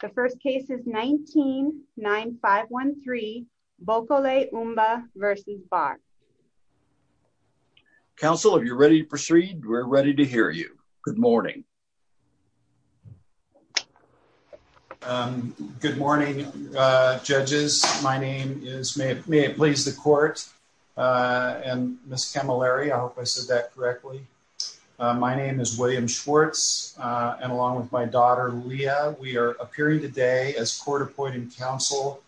The first case is 19-9513 Bokole Umba v. Barr. Counsel, if you're ready to proceed, we're ready to hear you. Good morning. Good morning, judges. My name is, may it please the court, and Ms. Camilleri, I hope I said that correctly. My name is William Schwartz, and along with my daughter, we are appearing today as court-appointed counsel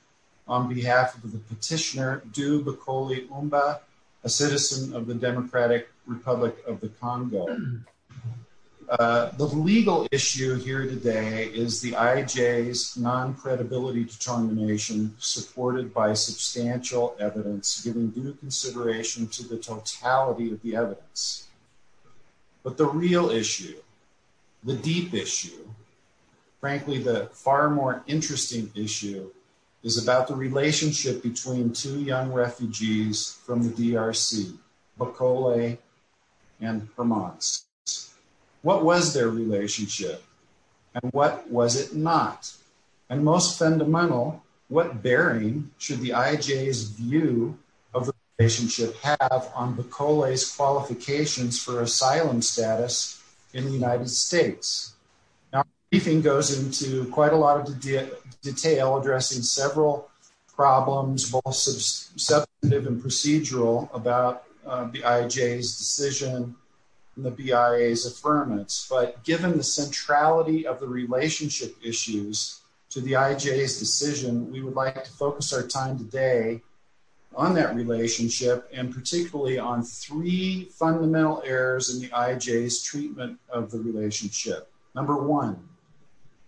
on behalf of the petitioner, Du Bokole Umba, a citizen of the Democratic Republic of the Congo. The legal issue here today is the IJ's non-credibility determination, supported by substantial evidence, giving due consideration to the totality of the evidence. But the real issue, the deep issue, frankly, the far more interesting issue, is about the relationship between two young refugees from the DRC, Bokole and Hermans. What was their relationship, and what was it not? And most fundamental, what bearing should the IJ's view of the relationship have on Bokole's qualifications for asylum status in the United States? Now, briefing goes into quite a lot of detail, addressing several problems, both substantive and procedural, about the IJ's decision and the BIA's affirmance. But I want to focus our time today on that relationship, and particularly on three fundamental errors in the IJ's treatment of the relationship. Number one,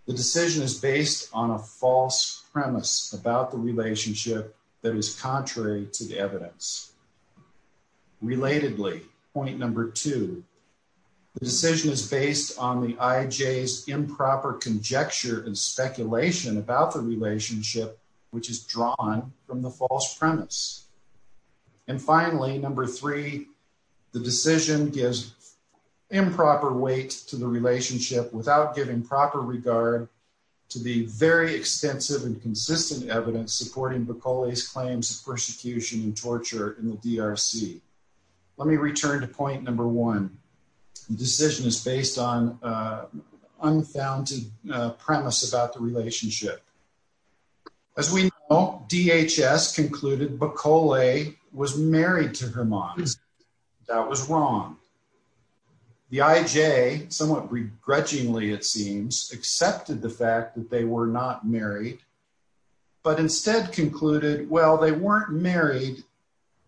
the decision is based on a false premise about the relationship that is contrary to the evidence. Relatedly, point number two, the decision is based on the IJ's improper conjecture and speculation about the relationship, which is drawn from the false premise. And finally, number three, the decision gives improper weight to the relationship without giving proper regard to the very extensive and consistent evidence supporting Bokole's claims of persecution and torture in the DRC. Let me return to point number one. The decision is based on an unfounded premise about the relationship. As we know, DHS concluded Bokole was married to Hermione. That was wrong. The IJ, somewhat begrudgingly it seems, accepted the fact that they were not married, but instead concluded, well, they weren't married,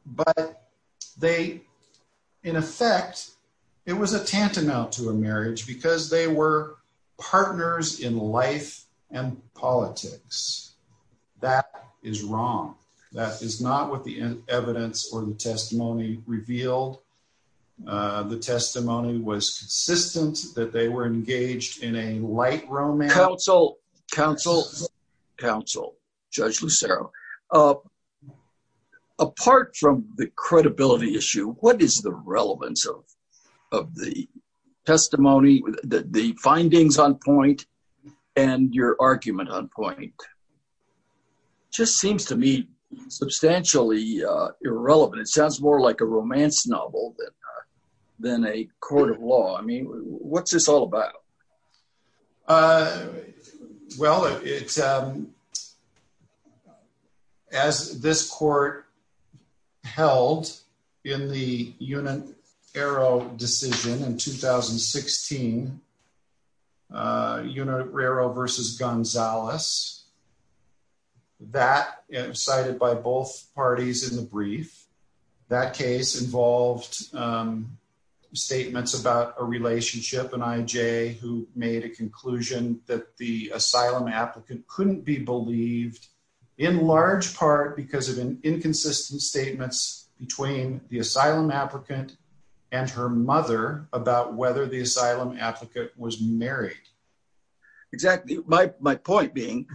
but they, in effect, it was a tantamount to a marriage, because they were partners in life and politics. That is wrong. That is not what the evidence or the testimony revealed. The testimony was consistent that they were engaged in a light romance. Counsel, counsel, counsel, Judge Lucero, apart from the credibility issue, what is the relevance of the testimony, the findings on point, and your argument on point? Just seems to me substantially irrelevant. It sounds more like a romance novel than a court law. I mean, what's this all about? Well, it's, as this court held in the Unitaro decision in 2016, Unitaro versus Gonzales, that, cited by both parties in the brief, that case involved statements about a relationship, an IJ who made a conclusion that the asylum applicant couldn't be believed, in large part because of inconsistent statements between the asylum applicant and her mother about whether the asylum applicant was married. Exactly. My point being,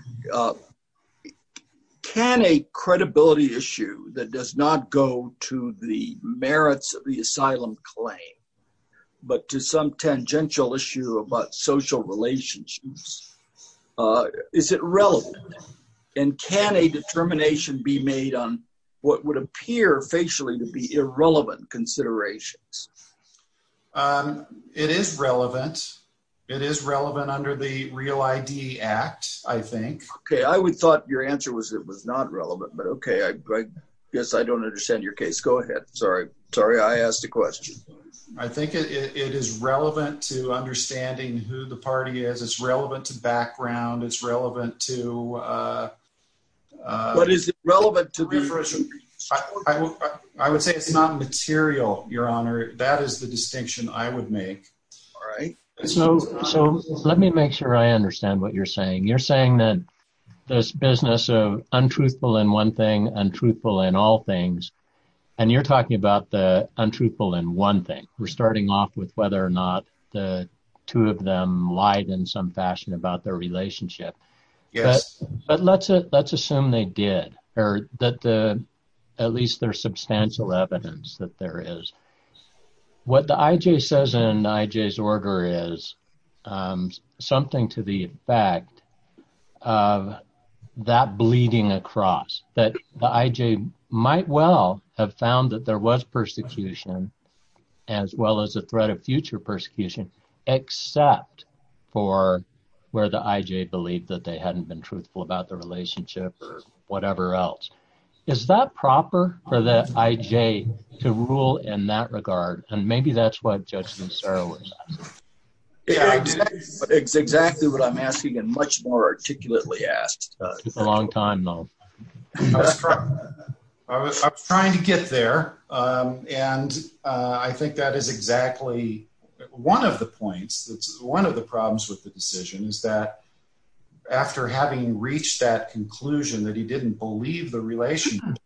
can a credibility issue that does not go to the merits of the asylum claim, but to some tangential issue about social relationships, is it relevant? And can a determination be made on what would appear facially to be irrelevant considerations? It is relevant. It is relevant under the Real ID Act, I think. Okay, I would thought your answer was it was not relevant, but okay, I guess I don't understand your case. Go ahead. Sorry. Sorry, I asked a question. I think it is relevant to understanding who the party is. It's relevant to background. It's relevant to... What is it relevant to? I would say it's not material, your honor. That is the distinction I would make. All right. So let me make sure I understand what you're saying. You're saying that this business of untruthful in one thing, untruthful in all things, and you're talking about the untruthful in one thing. We're starting off with whether or not the two of them lied in some fashion about their relationship. Yes. But let's assume they did, or that at least there's substantial evidence that there is. What the IJ says in IJ's order is something to the effect of that bleeding across, that the IJ might well have found that there was persecution, as well as a threat of future persecution, except for where the IJ believed that they hadn't been truthful about the relationship or whatever else. Is that proper for the IJ to rule in that regard? And maybe that's what Judge Nassar was asking. Yeah, it's exactly what I'm asking and much more articulately asked. Took a long time, though. I was trying to get there. And I think that is exactly one of the points, one of the problems with the decision is that after having reached that conclusion that he didn't believe the relationship,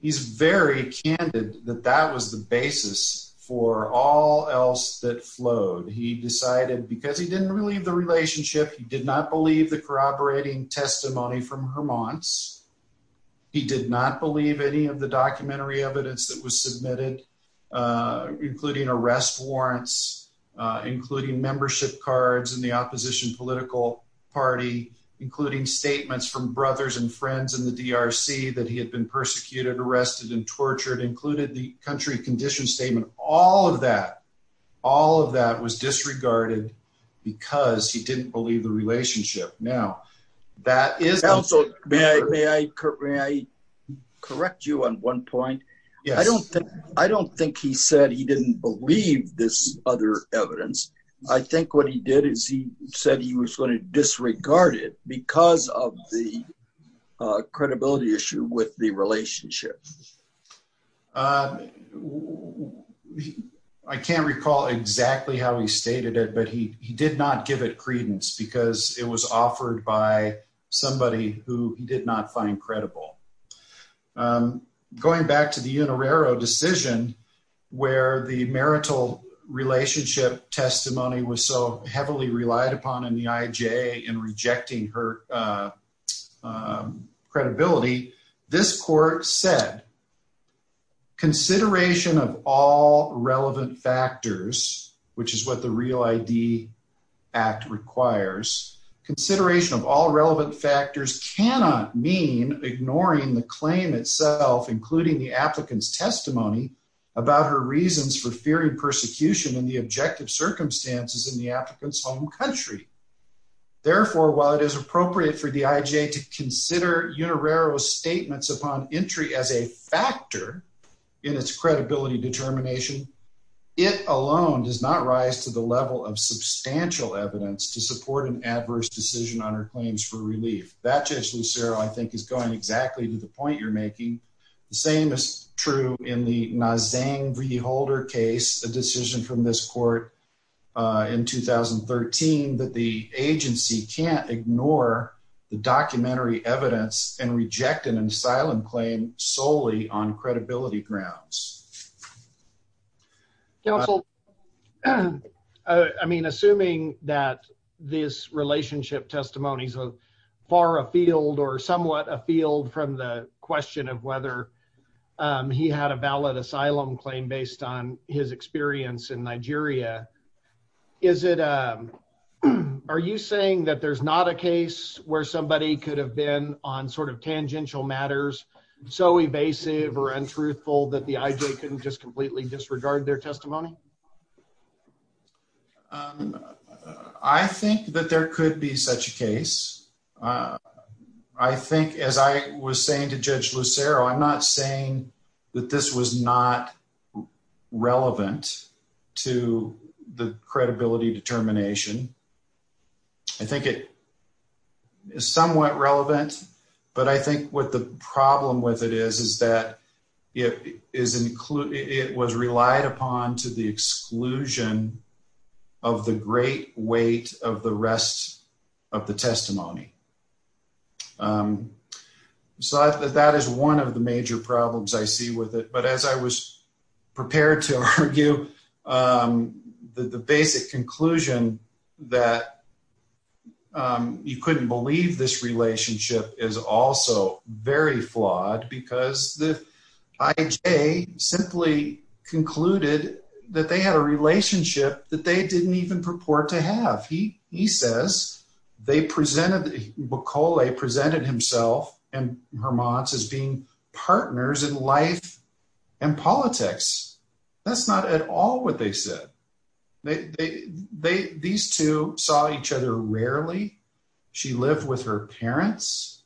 he's very candid that that was the basis for all else that flowed. He decided because he didn't believe the relationship, he did not believe the corroborating testimony from Hermantz. He did not believe any of the documentary evidence that was cards in the opposition political party, including statements from brothers and friends in the DRC that he had been persecuted, arrested and tortured, included the country condition statement. All of that, all of that was disregarded because he didn't believe the relationship. Now, that is. And also, may I correct you on one point? Yes. I don't think he said he didn't believe this other evidence. I think what he did is he said he was going to disregard it because of the credibility issue with the relationship. I can't recall exactly how he stated it, but he did not give it credence because it was offered by somebody who he did not find credible. Going back to the Unerero decision where the marital relationship testimony was so heavily relied upon in the IJ in rejecting her credibility, this court said, consideration of all relevant factors, which is what the REAL ID Act requires, consideration of all relevant factors cannot mean ignoring the claim itself, including the applicant's testimony about her reasons for fearing persecution in the objective circumstances in the applicant's home country. Therefore, while it is appropriate for the IJ to consider Unerero's entry as a factor in its credibility determination, it alone does not rise to the level of substantial evidence to support an adverse decision on her claims for relief. That, Judge Lucero, I think is going exactly to the point you're making. The same is true in the Nzingh V. Holder case, a decision from this court in 2013 that the agency can't ignore the documentary evidence and reject an asylum claim solely on credibility grounds. Counsel, I mean, assuming that this relationship testimony is far afield or somewhat afield from the question of whether he had a valid asylum claim based on his experience in Nigeria, is it, um, are you saying that there's not a case where somebody could have been on sort of tangential matters so evasive or untruthful that the IJ couldn't just completely disregard their testimony? I think that there could be such a case. I think, as I was saying to Judge Lucero, I'm not saying that this was not relevant to the credibility determination. I think it is somewhat relevant, but I think what the problem with it is, is that it was relied upon to the exclusion of the great weight of the rest of the testimony. So, that is one of the major problems I see with it, but as I was prepared to argue, the basic conclusion that you couldn't believe this relationship is also very flawed because the IJ simply concluded that they had a relationship that they didn't even purport to have. He says they presented, Bokole presented himself and Hermans as being partners in life and politics. That's not at all what they said. They, they, they, these two saw each other rarely. She lived with her parents.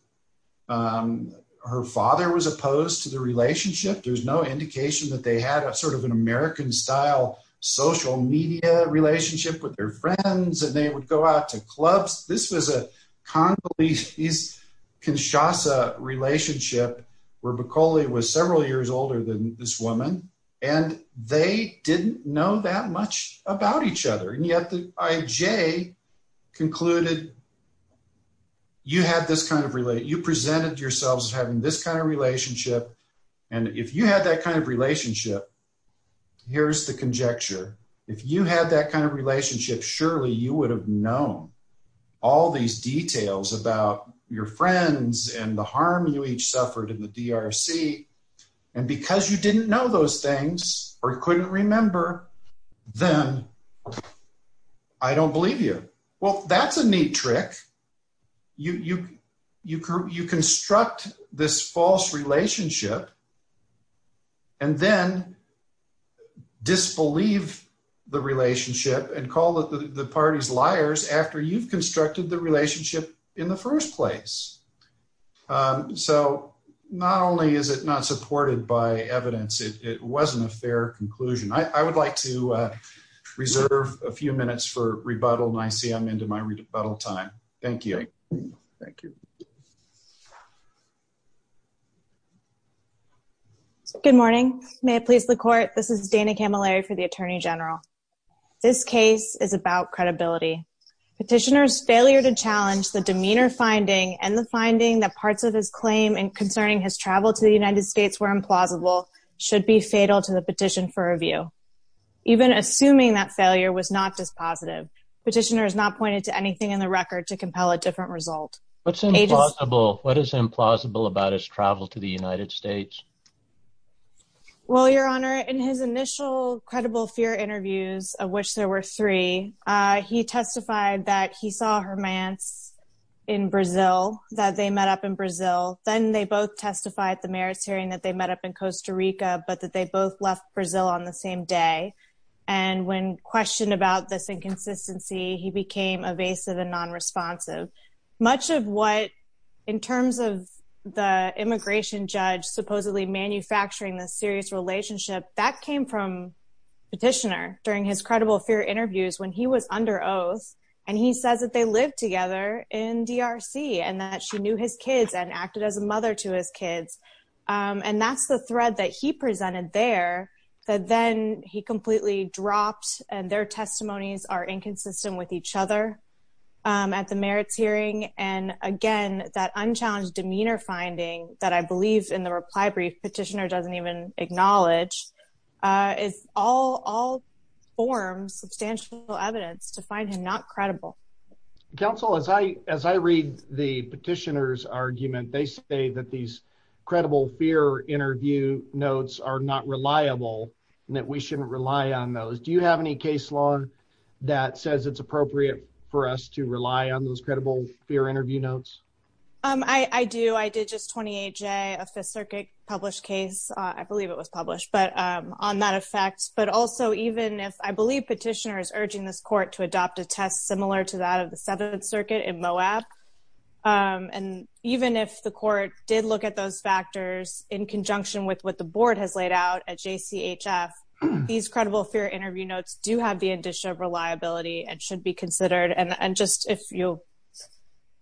Um, her father was opposed to the relationship. There's no indication that they had a sort of an American-style social media relationship with their friends, and they would go out to clubs. This was a Congolese-Kinshasa relationship where Bokole was several years older than this woman, and they didn't know that much about each other, and yet the IJ concluded you had this kind of, you presented yourselves as having this kind of relationship, and if you had that kind of relationship, here's the conjecture. If you had that kind of all these details about your friends and the harm you each suffered in the DRC, and because you didn't know those things, or you couldn't remember them, I don't believe you. Well, that's a neat trick. You, you, you, you construct this false relationship and then disbelieve the relationship and call the, the parties liars after you've constructed the relationship in the first place. Um, so not only is it not supported by evidence, it, it wasn't a fair conclusion. I, I would like to, uh, reserve a few minutes for rebuttal, and I see I'm in my rebuttal time. Thank you. Thank you. Good morning. May it please the court, this is Dana Camilleri for the Attorney General. This case is about credibility. Petitioner's failure to challenge the demeanor finding and the finding that parts of his claim concerning his travel to the United States were implausible should be fatal to the petition for review. Even assuming that failure was not just positive. Petitioner has not pointed to anything in the record to compel a different result. What's implausible? What is implausible about his travel to the United States? Well, your honor, in his initial credible fear interviews, of which there were three, uh, he testified that he saw her man in Brazil, that they met up in Brazil. Then they both testified at the mayor's hearing that they met up in Costa Rica, but that they both left Brazil on the same day. And when questioned about this inconsistency, he became evasive and non-responsive. Much of what in terms of the immigration judge supposedly manufacturing this serious relationship, that came from petitioner during his credible fear interviews when he was under oath, and he says that they lived together in DRC and that she knew his kids and acted as a mother to his kids. Um, and that's the thread that he presented there that then he completely dropped and their testimonies are inconsistent with each other, um, at the mayor's hearing. And again, that unchallenged demeanor finding that I believe in the reply brief petitioner doesn't even acknowledge, uh, is all, all forms substantial evidence to find him not credible. Council, as I, as I read the petitioner's argument, they say that these credible fear interview notes are not reliable and that we shouldn't rely on those. Do you have any case law that says it's appropriate for us to rely on those credible fear interview notes? Um, I, I do. I did just 28 J a fifth circuit published case. Uh, I believe it was published, but, um, on that effect, but also even if I believe petitioner is urging this court to adopt a test similar to that of the seventh circuit in Moab. Um, and even if the court did look at those factors in conjunction with what the board has laid out at JCHF, these credible fear interview notes do have the addition of reliability and should be considered. And just if you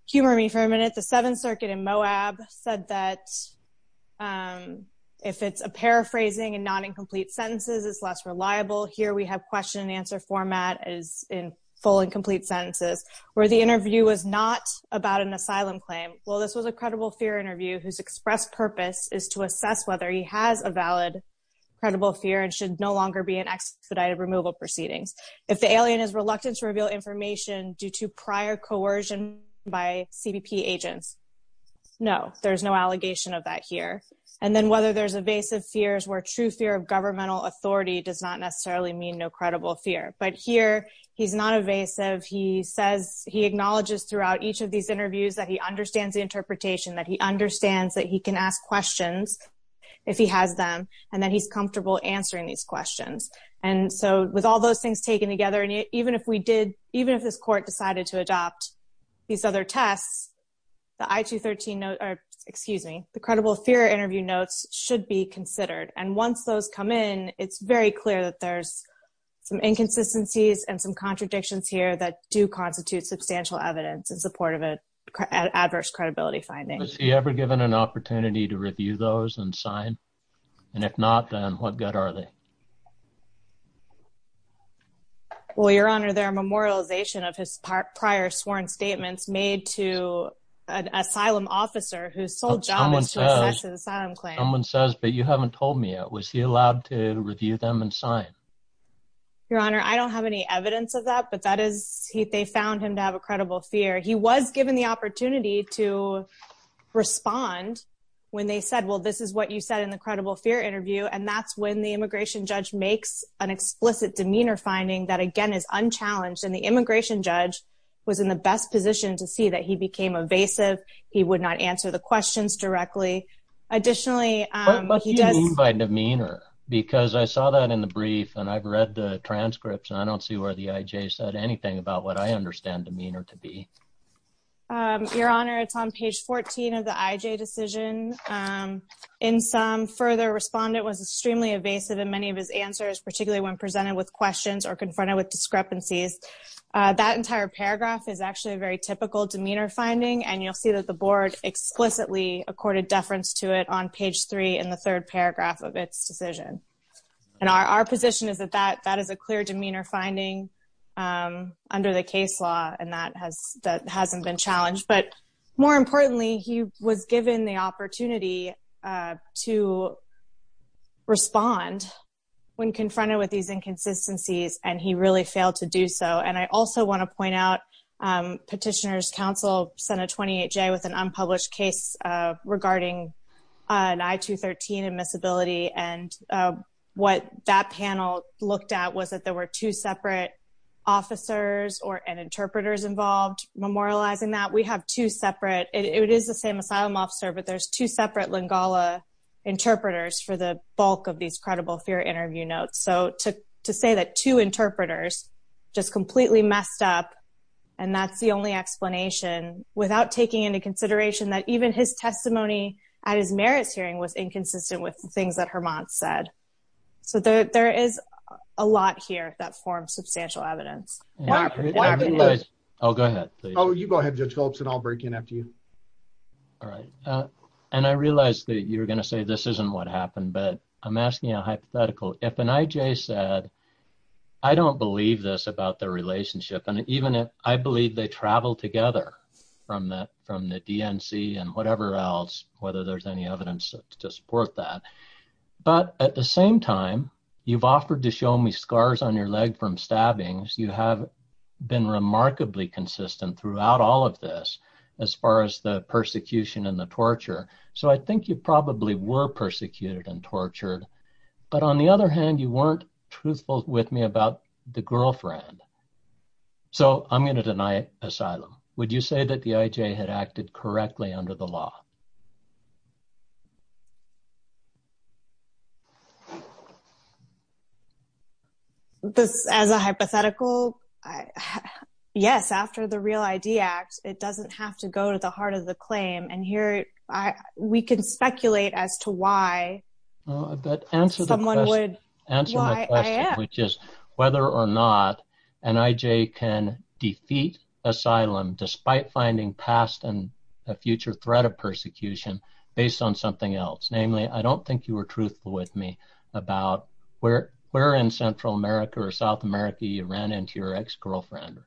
humor me for a minute, the seventh circuit in Moab said that, um, if it's a paraphrasing and not incomplete sentences is less reliable here. We have question and answer format as in full and complete sentences where the interview was not about an asylum claim. Well, this was a credible fear interview whose express purpose is to assess whether he has a valid credible fear and should no longer be an expedited removal proceedings. If the alien is reluctant to reveal information due to prior coercion by CBP agents. No, there's no allegation of that here. And then whether there's evasive fears where true fear of governmental authority does not necessarily mean no credible fear, but here he's not evasive. He says he acknowledges throughout each of these interviews that he understands the interpretation, that he understands that he can ask questions if he has them, and then he's comfortable answering these questions. And so with all those things taken together, and even if we did, even if this court decided to adopt these other tests, the I two 13 note, or excuse me, the credible fear interview notes should be considered. And once those come in, it's very clear that there's some inconsistencies and some contradictions here that do constitute substantial evidence in support of it. Adverse credibility findings. He ever given an opportunity to review those and sign. And if not, then what good are they? Well, your honor, their memorialization of his part prior sworn statements made to an asylum officer who sold someone says, but you haven't told me yet. Was he allowed to review them and sign your honor? I don't have any evidence of that, but that is he, they found him to have a credible fear. He was given the opportunity to respond when they said, well, this is what you said in the credible fear interview. And that's when the immigration judge makes an explicit demeanor finding that again is unchallenged. And the immigration judge was in the best position to see that he became evasive. He would not answer the questions directly. Additionally, by demeanor, because I saw that in the brief and I've read the transcripts and I don't see where the IJ said anything about what I understand demeanor to be. Your honor, it's on page 14 of the IJ decision. In some further respondent was extremely evasive in many of his answers, particularly when presented with questions or confronted with discrepancies. Uh, that entire paragraph is actually a very typical demeanor finding. And you'll see that the board explicitly accorded deference to it on page three in the third paragraph of its decision. And our, our position is that that, that is a clear demeanor finding, um, under the case law. And that has, that hasn't been challenged, but more importantly, he was given the opportunity, uh, to respond when confronted with these inconsistencies and he really failed to do so. And I also want to point out, um, petitioners council Senate 28 J with an unpublished case, uh, regarding, uh, an I two 13 admissibility. And, uh, what that panel looked at was that there were two separate officers or an interpreters involved memorializing that we have two separate, it is the same asylum officer, but there's two separate Lingala interpreters for the bulk of these credible fear interview notes. So to, to say that two interpreters just completely messed up. And that's the only explanation without taking into consideration that even his testimony at his merits hearing was inconsistent with the things that her mom said. So there, there is a lot here that forms substantial evidence. Yeah. Oh, go ahead. Oh, you go ahead. Judge Phillips and I'll break in after you. All right. Uh, and I realized that you were going to say, this isn't what happened, but I'm asking a hypothetical. If an IJ said, I don't believe this about their relationship. And even I believe they traveled together from that, from the DNC and whatever else, whether there's any evidence to support that. But at the same time, you've offered to show me scars on your leg from stabbings. You have been remarkably consistent throughout all of this, as far as the persecution and the torture. So I think you probably were persecuted and tortured, but on the other hand, you weren't truthful with me about the girlfriend. So I'm going to deny asylum. Would you say that the IJ had acted correctly under the law? This as a hypothetical, yes, after the Real ID Act, it doesn't have to go to the heart of the claim. And here I, we can speculate as to why someone would, why I am. Whether or not an IJ can defeat asylum, despite finding past and a future threat of persecution based on something else. Namely, I don't think you were truthful with me about where, where in Central America or South America, you ran into your ex-girlfriend.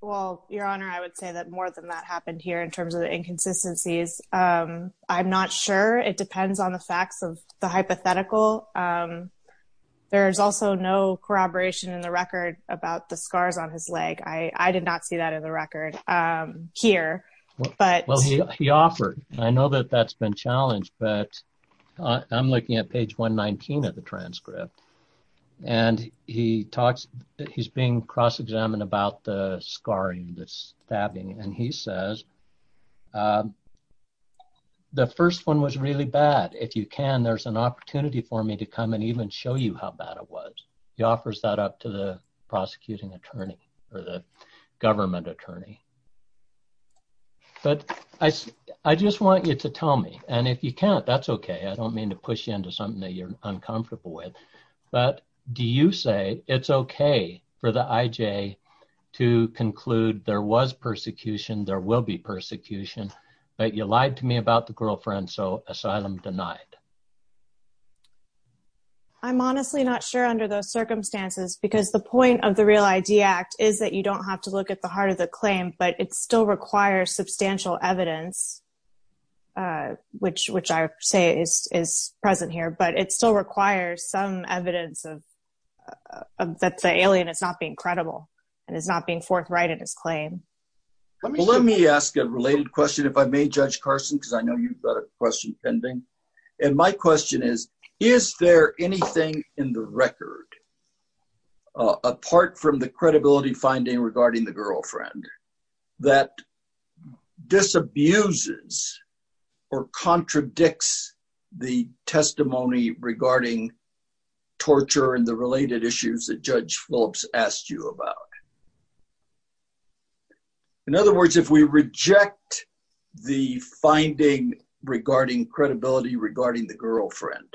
Well, Your Honor, I would say that more than that happened here in terms of the inconsistencies. I'm not sure. It depends on the facts of the hypothetical. There's also no corroboration in the record about the scars on his leg. I did not see that in the record here. Well, he offered, I know that that's been challenged, but I'm looking at page 119 of the transcript and he talks, he's being cross-examined about the scarring, the stabbing. And he says, the first one was really bad. If you can, there's an opportunity for me to come and even show you how bad it was. He offers that up to the prosecuting attorney or the government attorney. But I, I just want you to tell me, and if you can't, that's okay. I don't mean to push you into something that you're uncomfortable with, but do you say it's okay for the IJ to conclude there was persecution, there will be persecution, but you lied to me about the girlfriend, so asylum denied? I'm honestly not sure under those circumstances, because the point of the Real ID Act is that you don't have to look at the heart of the claim, but it still requires substantial evidence, which, which I say is, is present here, but it still requires some evidence of, that the alien is not being credible and is not being forthright in his claim. Let me ask a related question, if I may, Judge Carson, because I know you've got a question pending. And my question is, is there anything in the record, apart from the credibility finding regarding the girlfriend, that disabuses or contradicts the testimony regarding torture and the related issues that Judge Phillips asked you about? In other words, if we reject the finding regarding credibility regarding the girlfriend,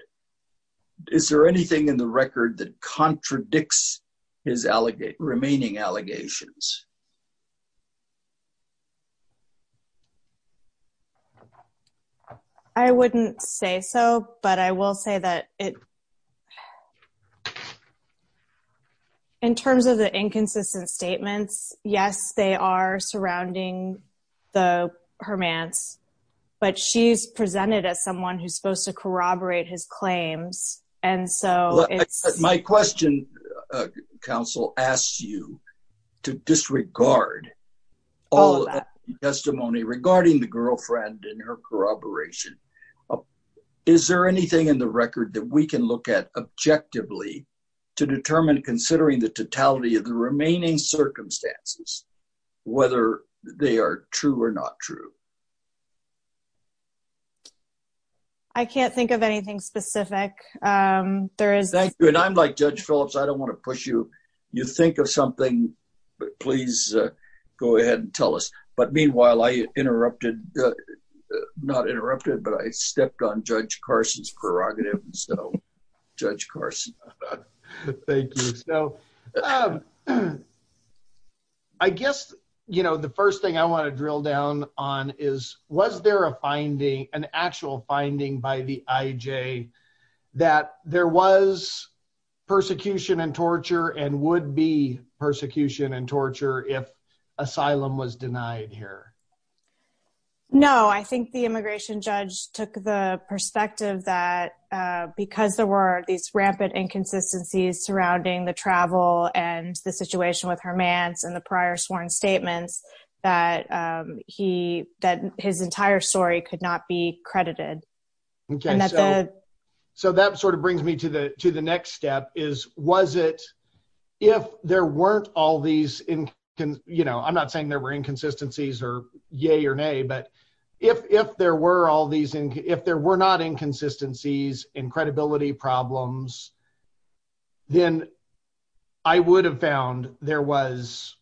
is there anything in the record that contradicts his remaining allegations? I wouldn't say so, but I will say that it, in terms of the inconsistent statements, yes, they are surrounding the hermance, but she's presented as someone who's supposed to corroborate his claims. And so it's... My question, counsel, asks you to disregard all the testimony regarding the girlfriend and her corroboration. Is there anything in the record that we can look at objectively to determine, considering the totality of the remaining circumstances, whether they are true or not true? I can't think of anything specific. Thank you. And I'm like Judge Phillips, I don't want to push you. You think of something, but please go ahead and tell us. But meanwhile, I interrupted, not interrupted, but I stepped on Judge Carson's prerogative. So, Judge Carson. Thank you. So, I guess the first thing I want to drill down on is, was there a finding, an actual finding by the IJ that there was persecution and torture and would be persecution and torture if asylum was denied here? No, I think the immigration judge took the perspective that because there were these inconsistencies surrounding the travel and the situation with Hermans and the prior sworn statements, that his entire story could not be credited. So, that sort of brings me to the next step is, was it... If there weren't all these... I'm not saying there were inconsistencies or yay or nay, but if there were not inconsistencies and credibility problems, then I would have found there was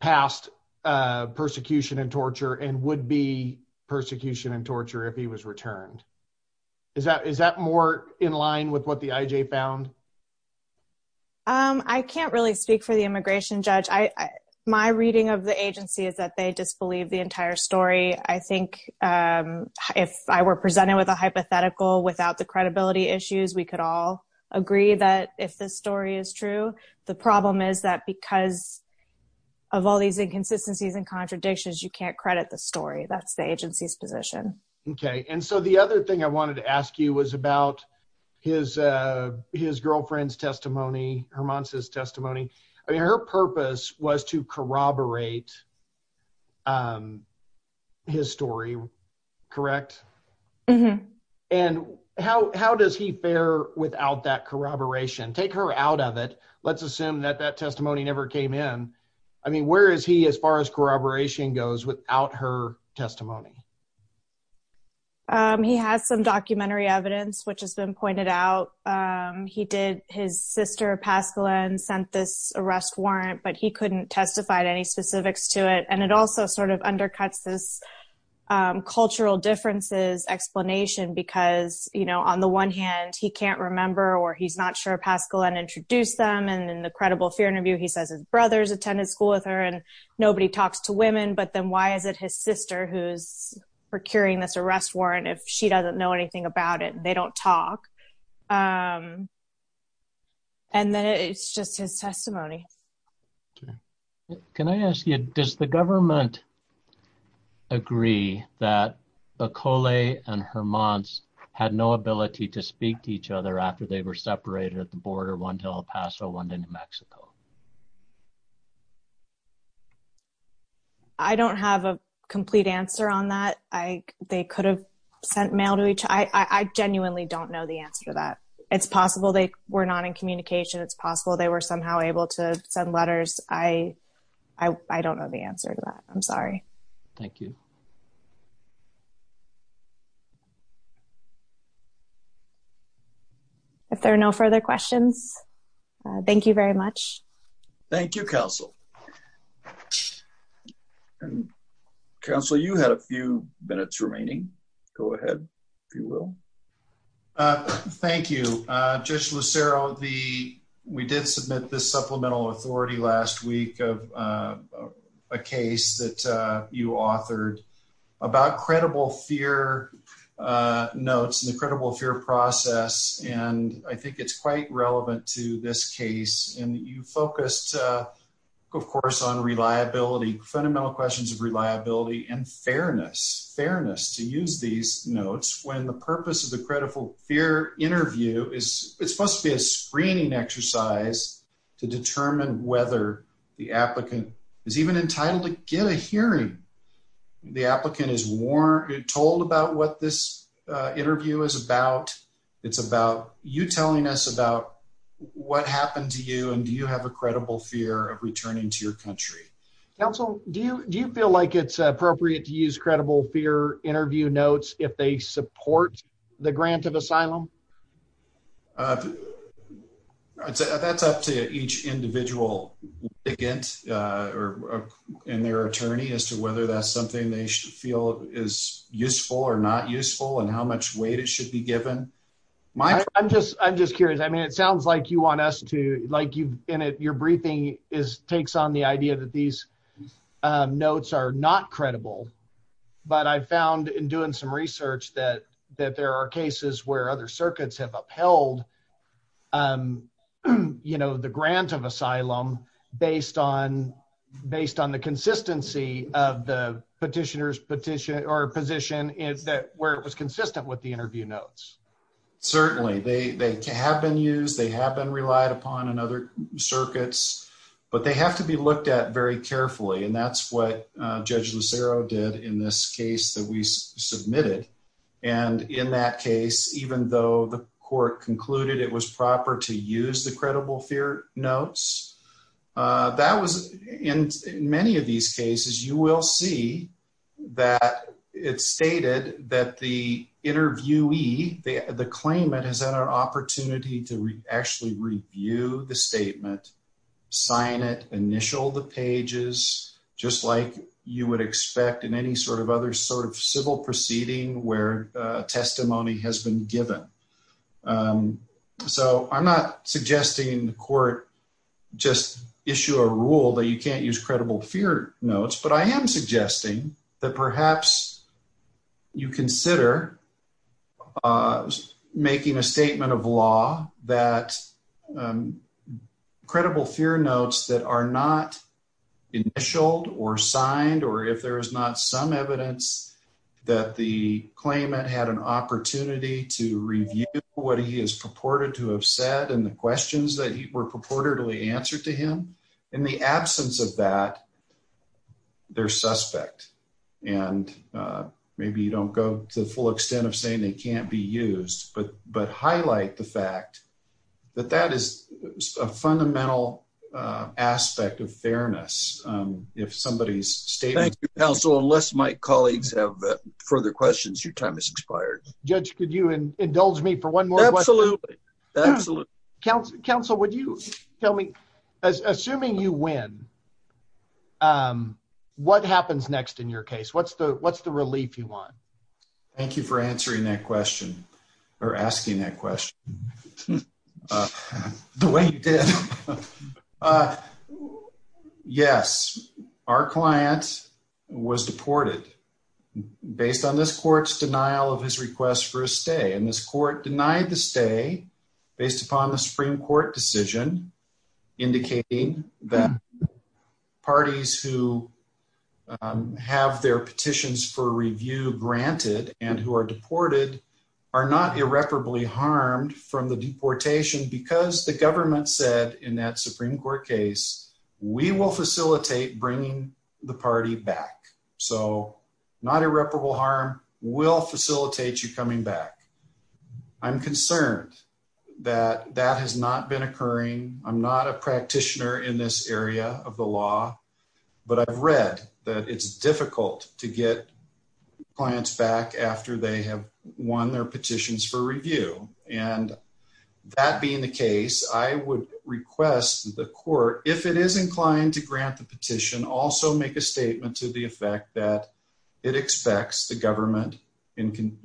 past persecution and torture and would be persecution and torture if he was returned. Is that more in line with what the IJ found? I can't really speak for the immigration judge. My reading of the agency is that they disbelieve the entire story. I think if I were presented with a hypothetical without the credibility issues, we could all agree that if this story is true, the problem is that because of all these inconsistencies and contradictions, you can't credit the story. That's the agency's position. Okay. And so, the other thing I wanted to ask you was about his girlfriend's testimony, Hermans' testimony. I mean, her purpose was to corroborate his story, correct? And how does he fare without that corroboration? Take her out of it. Let's assume that that testimony never came in. I mean, where is he as far as corroboration goes without her testimony? He has some documentary evidence, which has been pointed out. He did, his sister, Pascaline, sent this arrest warrant, but he couldn't testify to any specifics to it. And it also sort of undercuts this cultural differences explanation because, you know, on the one hand, he can't remember or he's not sure Pascaline introduced them. And in the credible fear interview, he says his brother's attended school with her and nobody talks to procuring this arrest warrant if she doesn't know anything about it. They don't talk. And then it's just his testimony. Can I ask you, does the government agree that Bacole and Hermans' had no ability to speak to each other after they were separated at the border, one to El Paso, one to New Mexico? I don't have a complete answer on that. They could have sent mail to each. I genuinely don't know the answer to that. It's possible they were not in communication. It's possible they were somehow able to send letters. I don't know the answer to that. I'm sorry. Thank you. If there are no further questions, thank you very much. Thank you, Counsel. And Counsel, you had a few minutes remaining. Go ahead, if you will. Thank you, Judge Lucero. We did submit this supplemental authority last week of a case that you authored about credible fear notes and the credible fear process. And I think it's quite relevant to this case. And you focused, of course, on reliability, fundamental questions of reliability and fairness, fairness to use these notes, when the purpose of the credible fear interview is it's supposed to be a screening exercise to determine whether the applicant is even entitled to get a hearing. The applicant is told about what this interview is about. It's about you telling us about what happened to you and do you have a credible fear of returning to your country? Counsel, do you feel like it's appropriate to use credible fear interview notes if they support the grant of asylum? I'd say that's up to each individual. Again, or in their attorney as to whether that's something they should feel is useful or not useful and how much weight it should be given. I'm just I'm just curious. I mean, it sounds like you want us to like you in it. Your briefing is takes on the idea that these notes are not credible. But I found in doing some have upheld, you know, the grant of asylum based on based on the consistency of the petitioner's petition or position is that where it was consistent with the interview notes. Certainly they have been used. They have been relied upon in other circuits, but they have to be looked at very carefully. And that's what Judge Lucero did in this case that we submitted. And in that case, even though the court concluded it was proper to use the credible fear notes, that was in many of these cases, you will see that it's stated that the interviewee, the claimant has had an opportunity to actually review the statement, sign it, initial the pages, just like you would expect in any sort of other sort of civil proceeding where testimony has been given. So I'm not suggesting the court just issue a rule that you can't use credible fear notes. But I am suggesting that perhaps you consider making a statement of law that credible fear notes that are not initialed or signed, or if there is not some evidence that the claimant had an opportunity to review what he is purported to have said and the questions that were purportedly answered to him. In the absence of that, they're suspect. And maybe you don't go to the full extent of saying they can't be used, but highlight the fact that that is a fundamental aspect of fairness. If somebody's state. Thank you, counsel. Unless my colleagues have further questions, your time is expired. Judge, could you indulge me for one more? Absolutely. Absolutely. Counsel, counsel, would you tell me, assuming you win, what happens next in your case? What's the what's the relief you want? Thank you for answering that question or asking that question the way you did. Yes, our client was deported based on this court's denial of his request for a stay, and this court denied the stay based upon the Supreme Court decision, indicating that people who have their petitions for review granted and who are deported are not irreparably harmed from the deportation because the government said in that Supreme Court case, we will facilitate bringing the party back. So not irreparable harm will facilitate you coming back. I'm concerned that that has not been occurring. I'm not a practitioner in this area of the law, but I've read that it's difficult to get clients back after they have won their petitions for review. And that being the case, I would request the court, if it is inclined to grant the petition, also make a statement to the effect that it expects the government in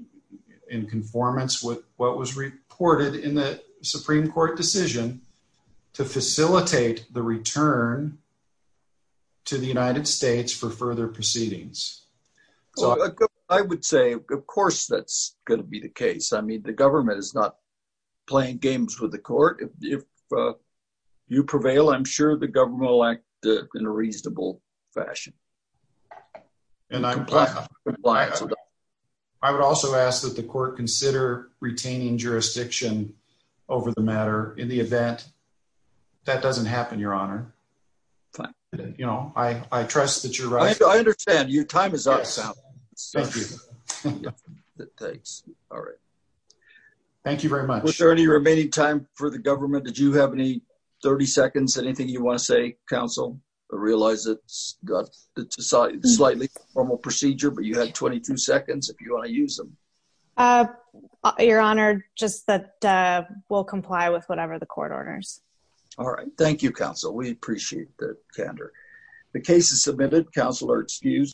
conformance with what was reported in the Supreme Court decision to facilitate the return to the United States for further proceedings. I would say, of course, that's going to be the case. I mean, the government is not playing games with the court. If you prevail, I'm sure the government will act in a reasonable fashion. I would also ask that the court consider retaining jurisdiction over the matter in the event that doesn't happen, Your Honor. I trust that you're right. I understand. Your time is up. Thank you very much. Was there any remaining time for the government? Did you have any 30 seconds, anything you want to say, Counsel? I realize it's got slightly formal procedure, but you have 22 seconds if you want to use them. Your Honor, just that we'll comply with whatever the court orders. All right. Thank you, Counsel. We appreciate the candor. The case is submitted. Counsel are excused.